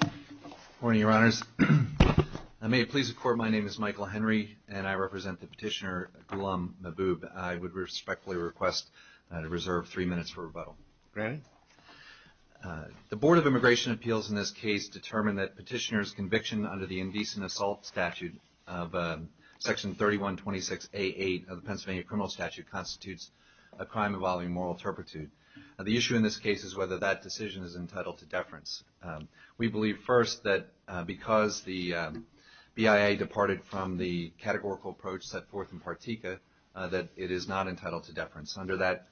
Good morning, your honors. May it please the court, my name is Michael Henry, and I represent the petitioner Ghulam Mahboob. I would respectfully request that I reserve three minutes for rebuttal. Granted. The Board of Immigration Appeals in this case determined that petitioner's conviction under the indecent assault statute of section 3126A.8 of the Pennsylvania Criminal Statute constitutes a crime involving moral turpitude. The issue in this case is whether that decision is entitled to deference. We believe, first, that because the BIA departed from the categorical approach set forth in Partika, that it is not entitled to deference. Under that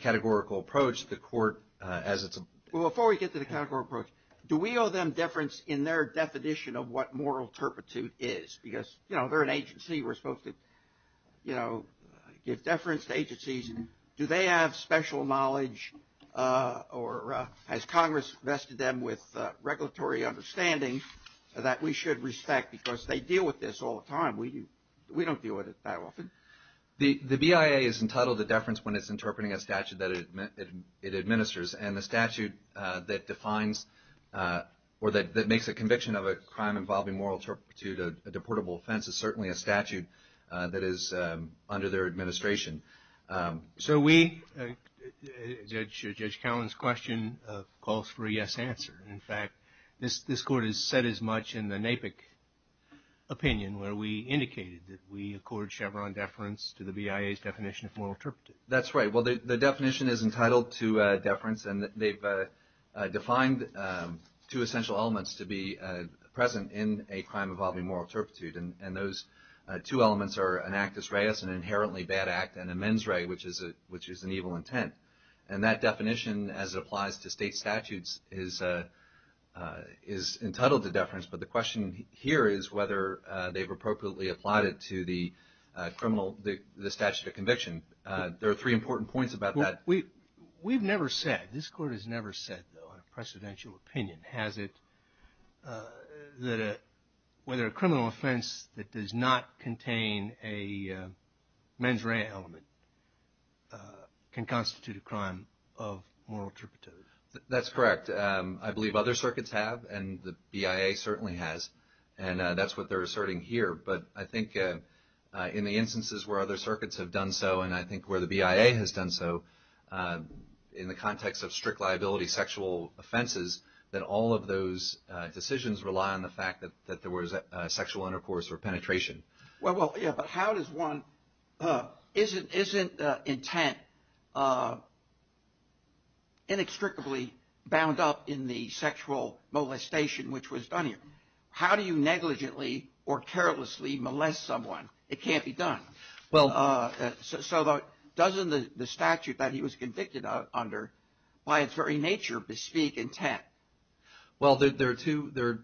categorical approach, the court, as it's a... Well, before we get to the categorical approach, do we owe them deference in their definition of what moral turpitude is? Because, you know, they're an agency. We're supposed to, you know, do they have special knowledge, or has Congress vested them with regulatory understanding that we should respect? Because they deal with this all the time. We don't deal with it that often. The BIA is entitled to deference when it's interpreting a statute that it administers. And the statute that defines, or that makes a conviction of a crime involving moral turpitude a deportable offense is certainly a statute that is under their administration. So we... Judge Cowen's question calls for a yes answer. In fact, this Court has said as much in the NAPIC opinion where we indicated that we accord Chevron deference to the BIA's definition of moral turpitude. That's right. Well, the definition is entitled to deference, and they've defined two essential elements to be present in a crime involving moral turpitude. And those two elements are an actus reus, an inherently bad act, and a mens rea, which is an evil intent. And that definition, as it applies to state statutes, is entitled to deference. But the question here is whether they've appropriately applied it to the criminal, the statute of conviction. There are three important points about that. We've never said, this Court has never said on a precedential opinion, has it, that whether a criminal offense that does not contain a mens rea element can constitute a crime of moral turpitude. That's correct. I believe other circuits have, and the BIA certainly has. And that's what they're asserting here. But I think in the instances where other circuits have done so, and I think where the BIA has done so, in the context of strict liability sexual offenses, that all of those decisions rely on the fact that there was sexual intercourse or penetration. Well, yeah, but how does one, isn't intent inextricably bound up in the sexual molestation which was done here? How do you negligently or carelessly molest someone? It can't be done. So doesn't the statute that he was convicted under, by its very nature, bespeak intent? Well, there are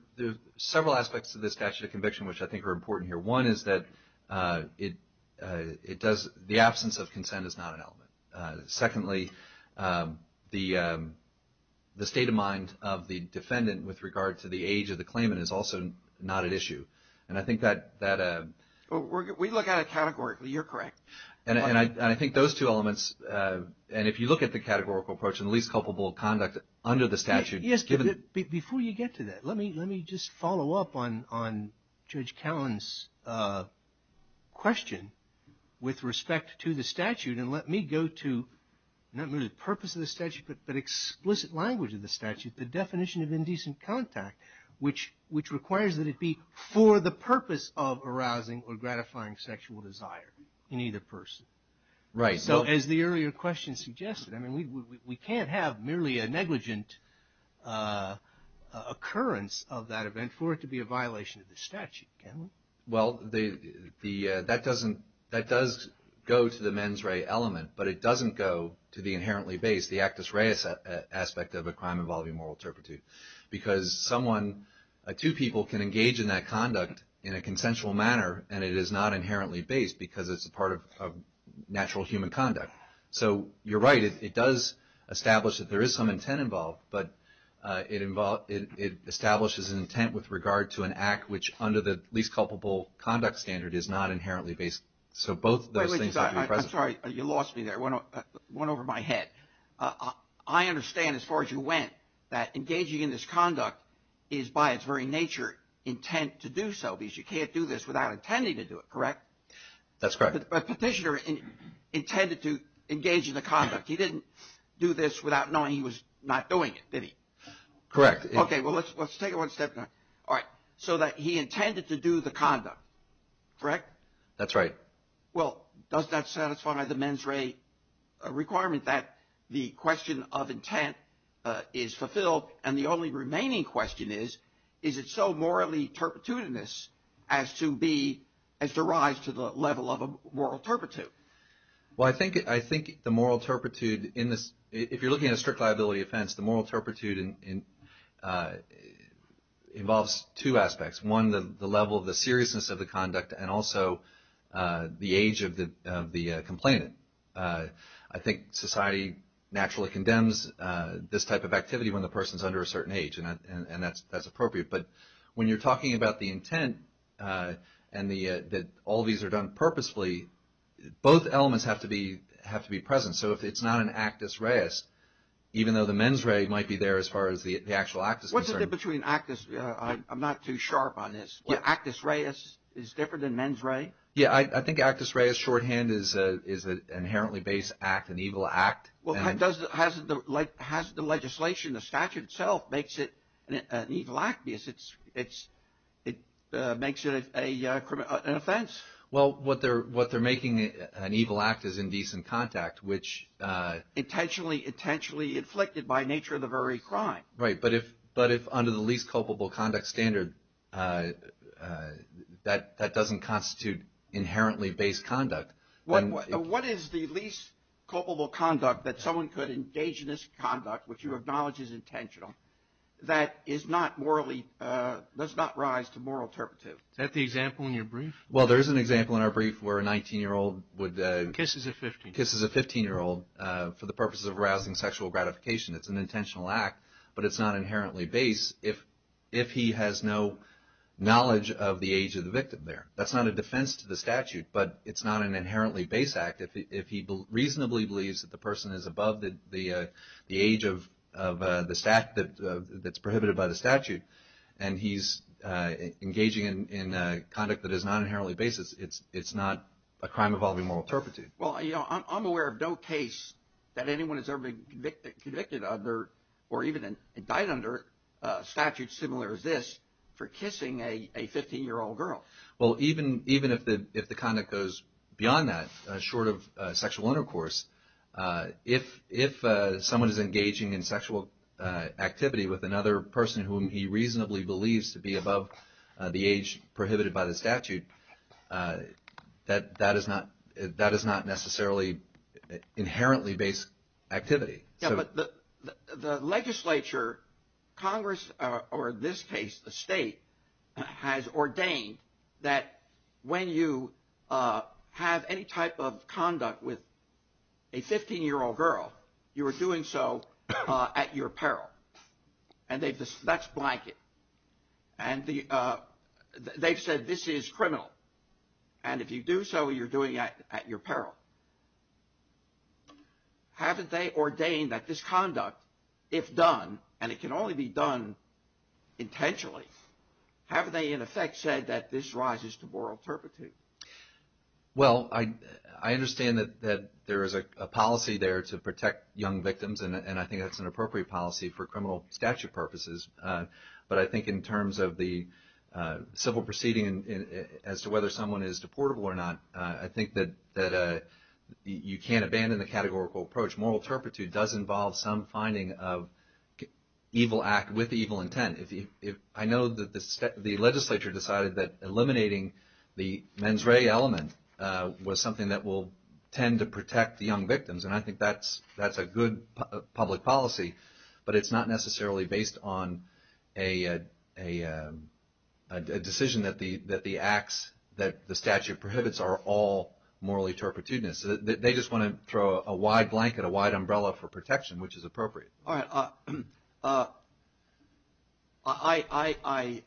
several aspects to the statute of conviction which I think are important here. One is that the absence of consent is not an element. Secondly, the state of mind of the defendant with regard to the age of the claimant is also not at issue. And I think that... We look at it categorically. You're correct. And I think those two elements, and if you look at the categorical approach and the least culpable conduct under the statute... Yes, but before you get to that, let me just follow up on Judge Callan's question with respect to the statute and let me go to not merely the purpose of the statute, but explicit language of the statute, the definition of indecent contact, which requires that it be for the purpose of arousing or gratifying sexual desire in either person. Right. So as the earlier question suggested, we can't have merely a negligent occurrence of that event for it to be a violation of the statute, can we? Well, that does go to the mens rea element, but it doesn't go to the inherently base, the actus rea aspect of a crime involving moral turpitude. Because someone, two people can engage in that conduct in a consensual manner and it is not inherently based because it's a part of natural human conduct. So you're right, it does establish that there is some intent involved, but it establishes an intent with regard to an act which under the least culpable conduct standard is not inherently based. So both those things have to be present. I'm sorry, you lost me there. It went over my head. I understand as far as you went that engaging in this conduct is by its very nature intent to do so because you can't do this without intending to do it, correct? That's correct. But Petitioner intended to engage in the conduct. He didn't do this without knowing he was not doing it, did he? Correct. Okay, well, let's take it one step down. All right. So he intended to do the conduct, correct? That's right. Well, does that satisfy the mens rea requirement that the question of intent is fulfilled and the only remaining question is, is it so morally turpitudinous as to rise to the level of a moral turpitude? Well, I think the moral turpitude in this, if you're looking at a strict liability offense, the moral turpitude involves two aspects. One, the level of the seriousness of the conduct and also the age of the complainant. I think society naturally condemns this type of activity when the person's under a certain age and that's appropriate. But when you're talking about the intent and that all these are done purposefully, both elements have to be present. So if it's not an actus reis, even though the mens rea might be there as far as the actual act is concerned. What's the difference between actus, I'm not too sharp on this, but actus reis is different than mens rea? Yeah, I think actus reis shorthand is an inherently base act, an evil act. Well, hasn't the legislation, the statute itself makes it an evil act? Makes it an offense? Well, what they're making, an evil act is indecent contact, which... Intentionally, intentionally inflicted by nature of the very crime. Right, but if under the least culpable conduct standard, that doesn't constitute inherently base conduct. What is the least culpable conduct that someone could engage in this conduct, which you acknowledge is intentional, that is not morally, does not rise to moral turpitude? Is that the example in your brief? Well, there is an example in our brief where a 19 year old would... Kisses a 15. Kisses a 15 year old for the purposes of arousing sexual gratification. It's an intentional act, but it's not inherently base if he has no knowledge of the age of the victim there. That's not a defense to the statute, but it's not an inherently base act. If he reasonably believes that the person is above the age of the statute that's prohibited by the statute and he's engaging in conduct that is not inherently base, it's not a crime involving moral turpitude. Well, I'm aware of no case that anyone has ever been convicted under or even died under a statute similar as this for kissing a 15 year old girl. Well, even if the conduct goes beyond that, short of sexual intercourse, if someone is engaging in sexual activity with another person whom he reasonably believes to be above the age prohibited by the statute, that is not necessarily inherently base activity. But the legislature, Congress, or this case, the state, has ordained that when you have any type of conduct with a 15 year old girl, you are doing so at your peril. That's blanket. They've said this is criminal, and if you do so, you're doing it at your peril. Haven't they ordained that this conduct, if done, and it can only be done intentionally, haven't they in effect said that this rises to moral turpitude? Well, I understand that there is a policy there to protect young victims, and I think that's an appropriate policy for criminal statute purposes. But I think in terms of the civil proceeding as to whether someone is deportable or not, I think that you can't say that moral turpitude does involve some finding of evil act with evil intent. I know the legislature decided that eliminating the mens rea element was something that will tend to protect the young victims, and I think that's a good public policy, but it's not necessarily based on a decision that the acts that the statute prohibits are all moral turpitudinous. They just want to throw a wide blanket, a wide umbrella for protection, which is appropriate. I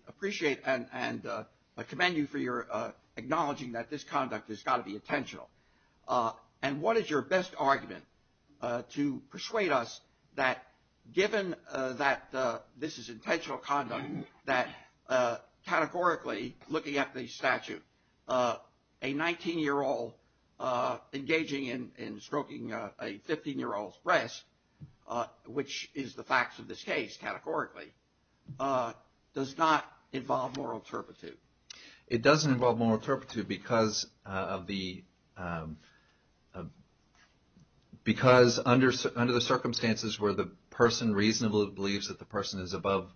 appreciate and commend you for your acknowledging that this conduct has got to be intentional. And what is your best argument to persuade us that given that this is intentional conduct, that categorically looking at the statute, a 19-year-old engaging in stroking a 15-year-old's breast, which is the facts of this case categorically, does not involve moral turpitude? It doesn't involve moral turpitude because under the circumstances where the person reasonably believes that the person is above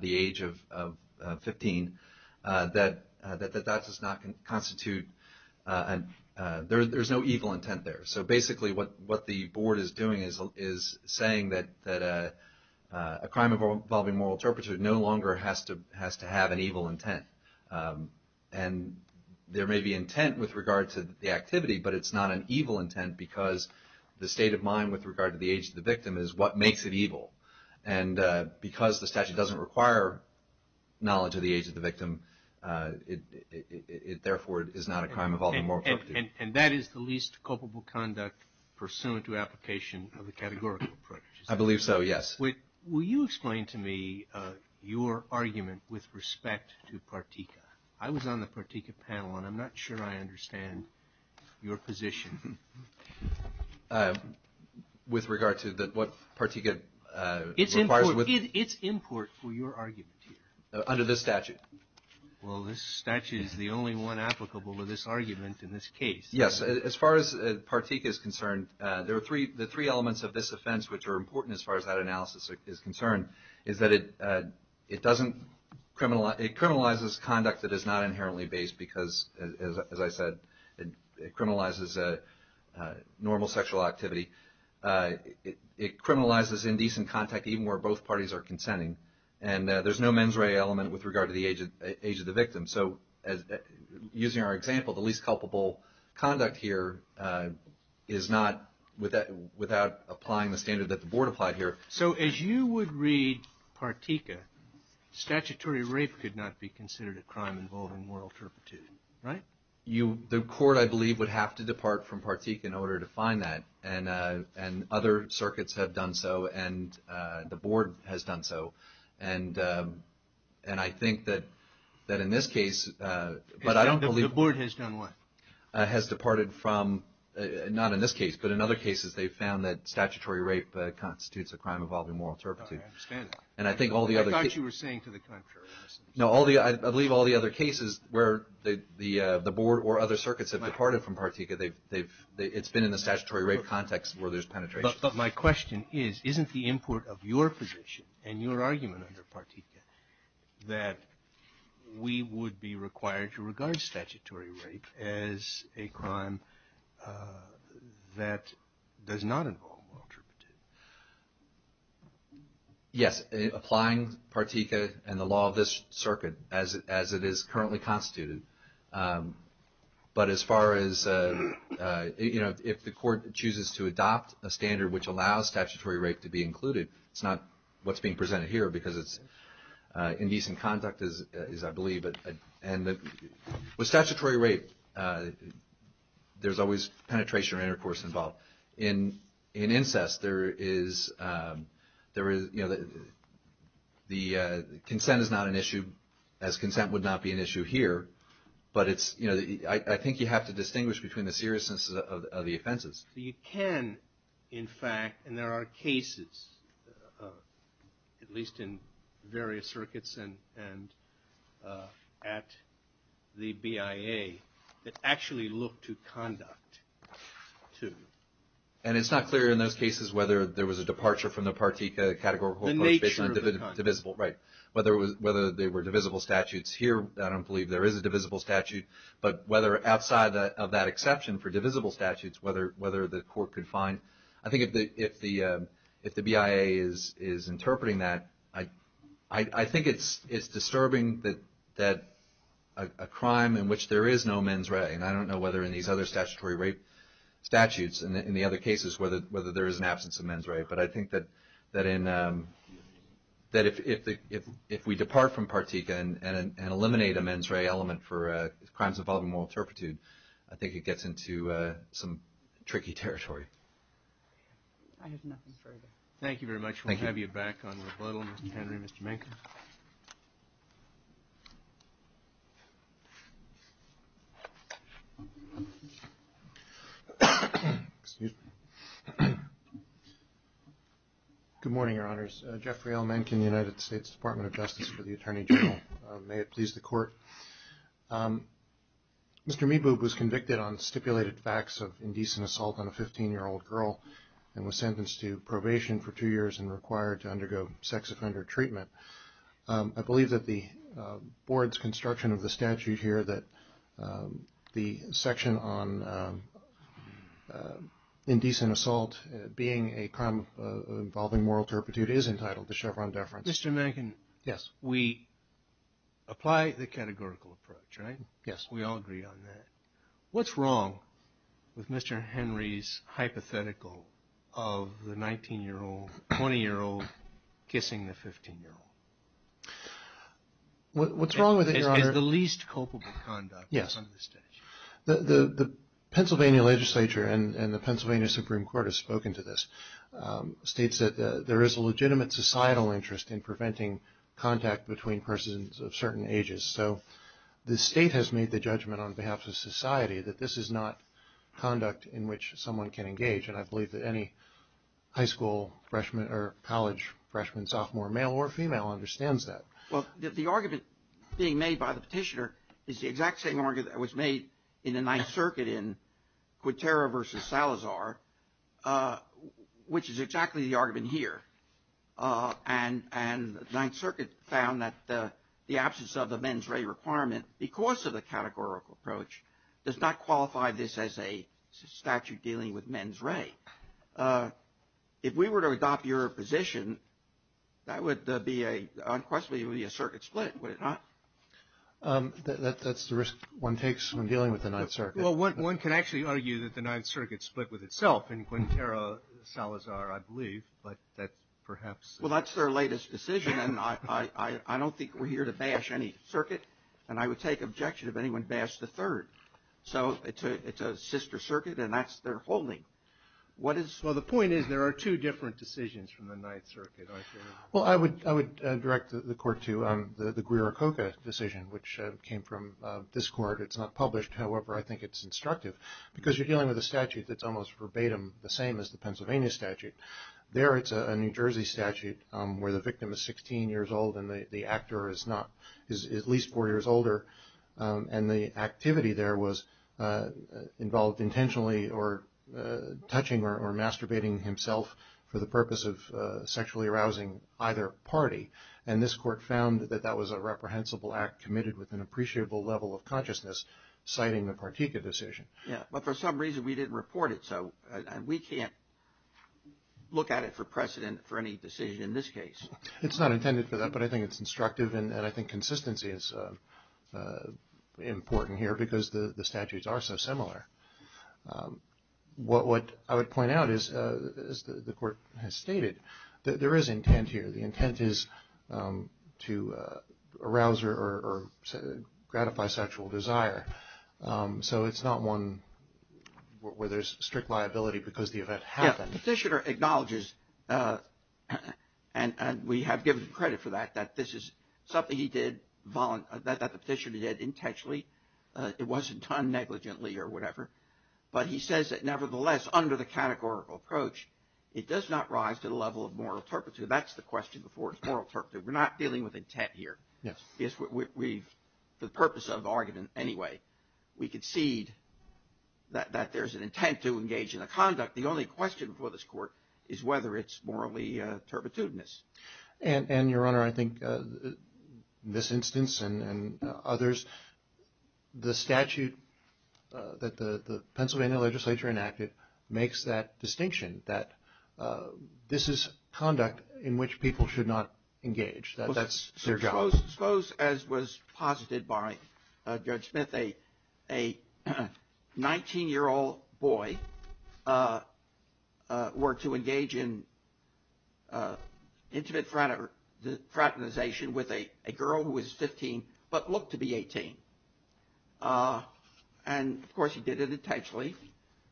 the age of 15, that does not constitute, there's no evil intent there. So basically what the board is doing is saying that a crime involving moral turpitude no longer has to have an evil intent. And there may be intent with regard to the activity, but it's not an evil intent because the state of mind with regard to the age of the victim is what makes it evil. And because the statute doesn't require knowledge of the age of the victim, it therefore is not a crime involving moral turpitude. And that is the least culpable conduct pursuant to application of the categorical approach? I believe so, yes. Will you explain to me your argument with respect to Partika? I was on the Partika panel and I'm not sure I understand your position. With regard to what Partika requires? It's import for your argument here. Under this statute? Well, this statute is the only one applicable to this argument in this case. Yes, as far as Partika is concerned, the three elements of this offense which are important as far as that analysis is concerned is that it criminalizes conduct that is not inherently based because, as I said, it criminalizes normal sexual activity. It criminalizes indecent contact even where both parties are consenting. And there's no mens rea element with regard to the age of the victim. So using our example, the least culpable conduct here is not without applying the standard that the board applied here. So as you would read Partika, statutory rape could not be considered a crime involving moral turpitude, right? The court, I believe, would have to depart from Partika in order to find that, and other circuits have done so, and the board has done so. And I think that in this case, but I don't believe... The board has done what? Has departed from, not in this case, but in other cases, they've found that statutory rape constitutes a crime involving moral turpitude. I understand that. And I think all the other... I thought you were saying to the contrary. No, I believe all the other cases where the board or other circuits have departed from Partika, it's been in the statutory rape context where there's penetration. But my question is, isn't the import of your position and your argument under Partika that we would be required to regard statutory rape as a crime that does not involve moral turpitude? Yes, applying Partika and the law of this circuit as it is currently constituted, but as far as, you know, if the court chooses to adopt a standard which allows statutory rape to be included, it's not what's being presented here, because it's in decent conduct as I believe, and with statutory rape, there's always penetration or intercourse involved. In incest, there is, you know, the consent is not an issue, as consent would not be an issue here, but it's, you know, I think you have to distinguish between the seriousness of the offenses. You can, in fact, and there are cases, at least in various circuits and at the BIA, that actually look to conduct, too. And it's not clear in those cases whether there was a departure from the Partika categorical approach based on divisible, right, whether they were divisible statutes. Here, I don't believe there is a divisible statute, but whether outside of that exception for divisible statutes, whether the court could find. I think if the BIA is interpreting that, I think it's disturbing that a crime in which there is no mens rea, and I don't know whether in these other statutory rape statutes, and in the other cases, whether there is an absence of mens rea, but I think that if we depart from Partika and eliminate a mens rea element for crimes involving moral turpitude, I think it gets into some tricky territory. I have nothing further. Thank you very much, we'll have you back on rebuttal, Mr. Henry, Mr. Mankin. Good morning, Your Honors. Jeffrey L. Mankin, United States Department of Justice for the Attorney General. May it please the Court. Mr. Meboob was convicted on stipulated facts of indecent assault on a 15-year-old girl and was sentenced to probation for two years and required to undergo sex offender treatment. I believe that the board's construction of the statute here, that the section on indecent assault being a crime involving moral turpitude, is entitled to Chevron deference. Mr. Mankin, we apply the categorical approach, right? We all agree on that. What's wrong with Mr. Henry's hypothetical of the 19-year-old, 20-year-old kissing the 15-year-old? What's wrong with it, Your Honor? It's the least culpable conduct under the statute. Yes. The Pennsylvania legislature and the Pennsylvania Supreme Court has spoken to this. States that there is a legitimate societal interest in preventing contact between persons of certain ages, so the state has made the judgment on behalf of society that this is not conduct in which someone can engage, and I believe that any high school freshman or college freshman, sophomore, male or female understands that. Well, the argument being made by the petitioner is the exact same argument that was made in the Ninth Circuit in Quintero v. Salazar, which is exactly the argument here. And the Ninth Circuit found that the absence of the mens rea requirement, because of the categorical approach, does not qualify this as a statute dealing with mens rea. If we were to adopt your position, that would be unquestionably a circuit split, would it not? That's the risk one takes when dealing with the Ninth Circuit. Well, one can actually argue that the Ninth Circuit split with itself in Quintero v. Salazar, I believe, but that's perhaps... Well, that's their latest decision, and I don't think we're here to bash any circuit, so it's a sister circuit, and that's their holding. Well, the point is, there are two different decisions from the Ninth Circuit, aren't there? Well, I would direct the court to the Guiricota decision, which came from this court. It's not published. However, I think it's instructive, because you're dealing with a statute that's almost verbatim the same as the Pennsylvania statute. There, it's a New Jersey statute where the victim is 16 years old and the actor is at least four years older, and the activity there was involved intentionally or touching or masturbating himself for the purpose of sexually arousing either party, and this court found that that was a reprehensible act committed with an appreciable level of consciousness, citing the Partika decision. Yeah, but for some reason, we didn't report it, so we can't look at it for precedent for any decision in this case. It's not intended for that, but I think it's instructive, and I think consistency is important here, because the statutes are so similar. What I would point out is, as the court has stated, that there is intent here. The intent is to arouse or gratify sexual desire, so it's not one where there's strict liability because the event happened. The petitioner acknowledges, and we have given him credit for that, that this is something he did, that the petitioner did intentionally. It wasn't done negligently or whatever, but he says that nevertheless, under the categorical approach, it does not rise to the level of moral turpitude. That's the question before moral turpitude. We're not dealing with intent here. Yes. For the purpose of argument anyway, we concede that there's an intent to engage in a conduct. The only question for this court is whether it's morally turpitudinous. Your Honor, I think this instance and others, the statute that the Pennsylvania legislature enacted makes that distinction, that this is conduct in which people should not engage. That's their job. Suppose, as was posited by Judge Smith, a 19-year-old boy were to engage in intimate fraternization with a girl who was 15 but looked to be 18. And, of course, he did it intentionally,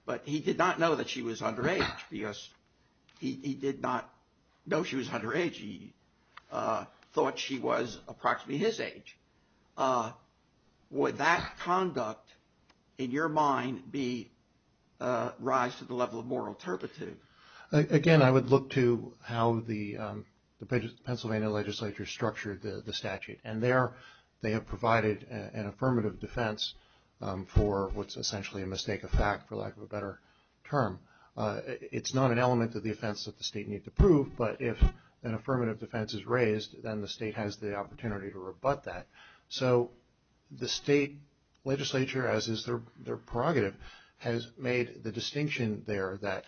but he did not know that she was underage because he did not know she was underage. He thought she was approximately his age. Would that conduct, in your mind, rise to the level of moral turpitude? Again, I would look to how the Pennsylvania legislature structured the statute. And there they have provided an affirmative defense for what's essentially a mistake of fact, for lack of a better term. It's not an element of the offense that the state need to prove, but if an affirmative defense is raised, then the state has the opportunity to rebut that. So the state legislature, as is their prerogative, has made the distinction there that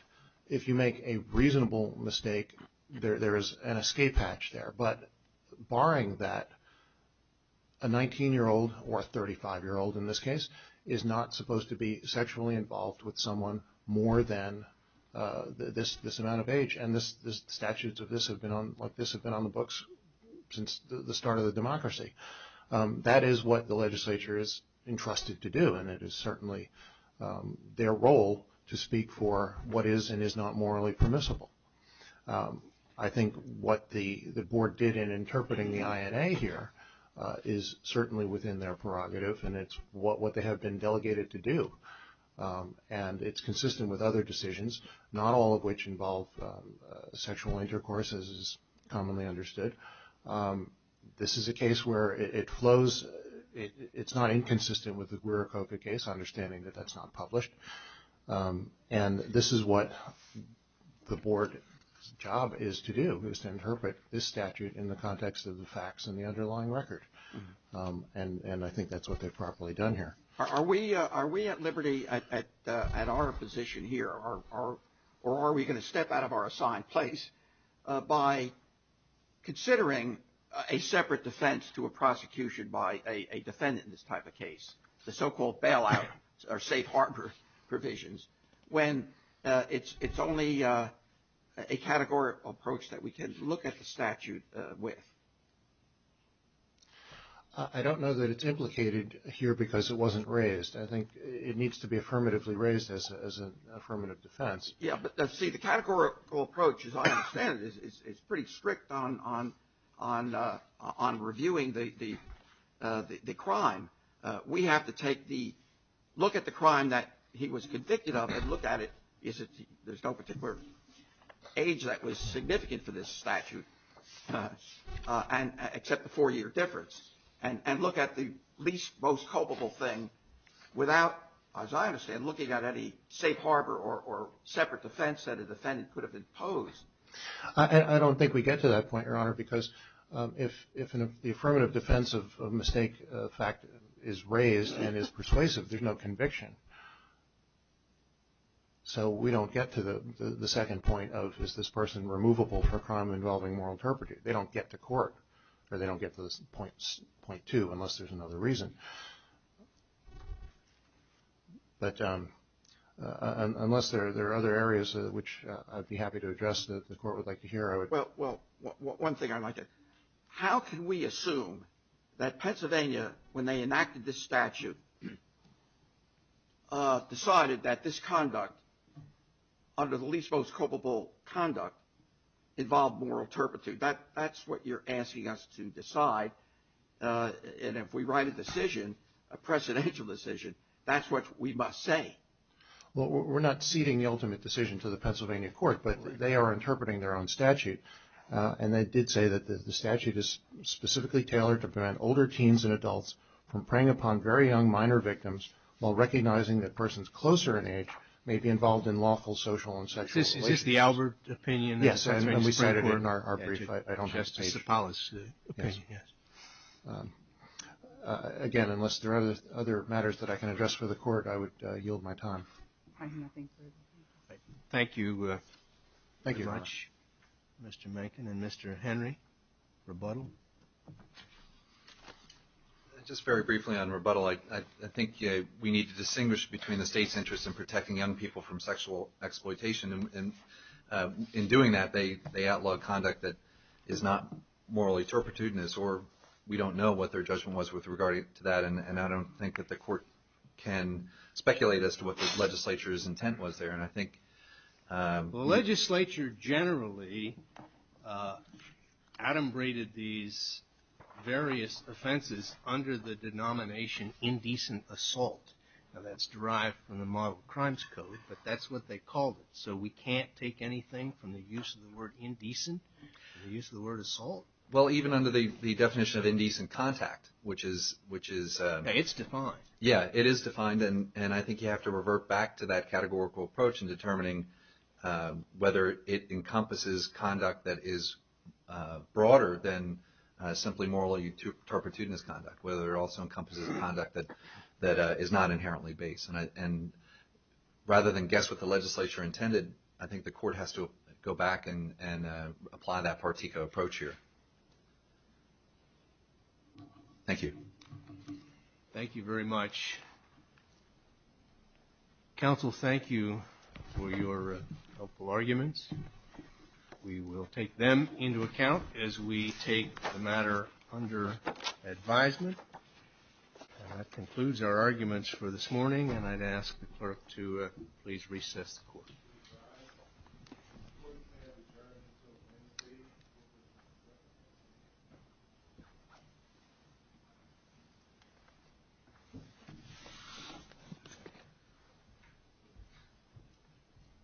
if you make a reasonable mistake, there is an escape hatch there. But barring that, a 19-year-old or a 35-year-old, in this case, is not supposed to be sexually involved with someone more than this amount of age. And the statutes of this have been on the books since the start of the democracy. That is what the legislature is entrusted to do, and it is certainly their role to speak for what is and is not morally permissible. I think what the board did in interpreting the INA here is certainly within their prerogative, and it's what they have been delegated to do. And it's consistent with other decisions, not all of which involve sexual intercourse, as is commonly understood. This is a case where it flows. It's not inconsistent with the Guericoka case, understanding that that's not published. And this is what the board's job is to do, is to interpret this statute in the context of the facts and the underlying record. And I think that's what they've properly done here. Are we at liberty at our position here, or are we going to step out of our assigned place by considering a separate defense to a prosecution by a defendant in this type of case, the so-called bailout or safe harbor provisions, when it's only a categorical approach that we can look at the statute with? I don't know that it's implicated here because it wasn't raised. I think it needs to be affirmatively raised as an affirmative defense. Yeah, but, see, the categorical approach, as I understand it, is pretty strict on reviewing the crime. We have to take the look at the crime that he was convicted of and look at it. There's no particular age that was significant for this statute, except the four-year difference, and look at the least, most culpable thing without, as I understand, looking at any safe harbor or separate defense that a defendant could have imposed. I don't think we get to that point, Your Honor, because if the affirmative defense of mistake fact is raised and is persuasive, there's no conviction. So we don't get to the second point of, is this person removable for crime involving moral interpretation? They don't get to court, or they don't get to this point, too, unless there's another reason. But unless there are other areas which I'd be happy to address that the Court would like to hear, I would. Well, one thing I'd like to ask. How can we assume that Pennsylvania, when they enacted this statute, decided that this conduct, under the least, most culpable conduct, involved moral interpretation? That's what you're asking us to decide. And if we write a decision, a precedential decision, that's what we must say. Well, we're not ceding the ultimate decision to the Pennsylvania Court, but they are interpreting their own statute. And they did say that the statute is specifically tailored to prevent older teens and adults from preying upon very young minor victims while recognizing that persons closer in age may be involved in lawful social and sexual relations. Is this the Albert opinion? Yes, and we said it in our brief. I don't have the page. Justice Zipalis' opinion, yes. Again, unless there are other matters that I can address for the Court, I would yield my time. I have nothing further. Thank you very much, Mr. Mankin. And Mr. Henry, rebuttal? Just very briefly on rebuttal. I think we need to distinguish between the state's interest in protecting young people from sexual exploitation. In doing that, they outlawed conduct that is not morally turpitudinous, or we don't know what their judgment was with regard to that. And I don't think that the Court can speculate as to what the legislature's intent was there. Well, the legislature generally adumbrated these various offenses under the denomination indecent assault. Now, that's derived from the Model Crimes Code, but that's what they called it. So we can't take anything from the use of the word indecent and the use of the word assault? Well, even under the definition of indecent contact, which is... It's defined. Yeah, it is defined, and I think you have to revert back to that categorical approach in determining whether it encompasses conduct that is broader than simply morally turpitudinous conduct, whether it also encompasses conduct that is not inherently base. And rather than guess what the legislature intended, I think the Court has to go back and apply that particular approach here. Thank you. Thank you very much. Counsel, thank you for your helpful arguments. We will take them into account as we take the matter under advisement. That concludes our arguments for this morning, and I'd ask the Clerk to please recess the Court.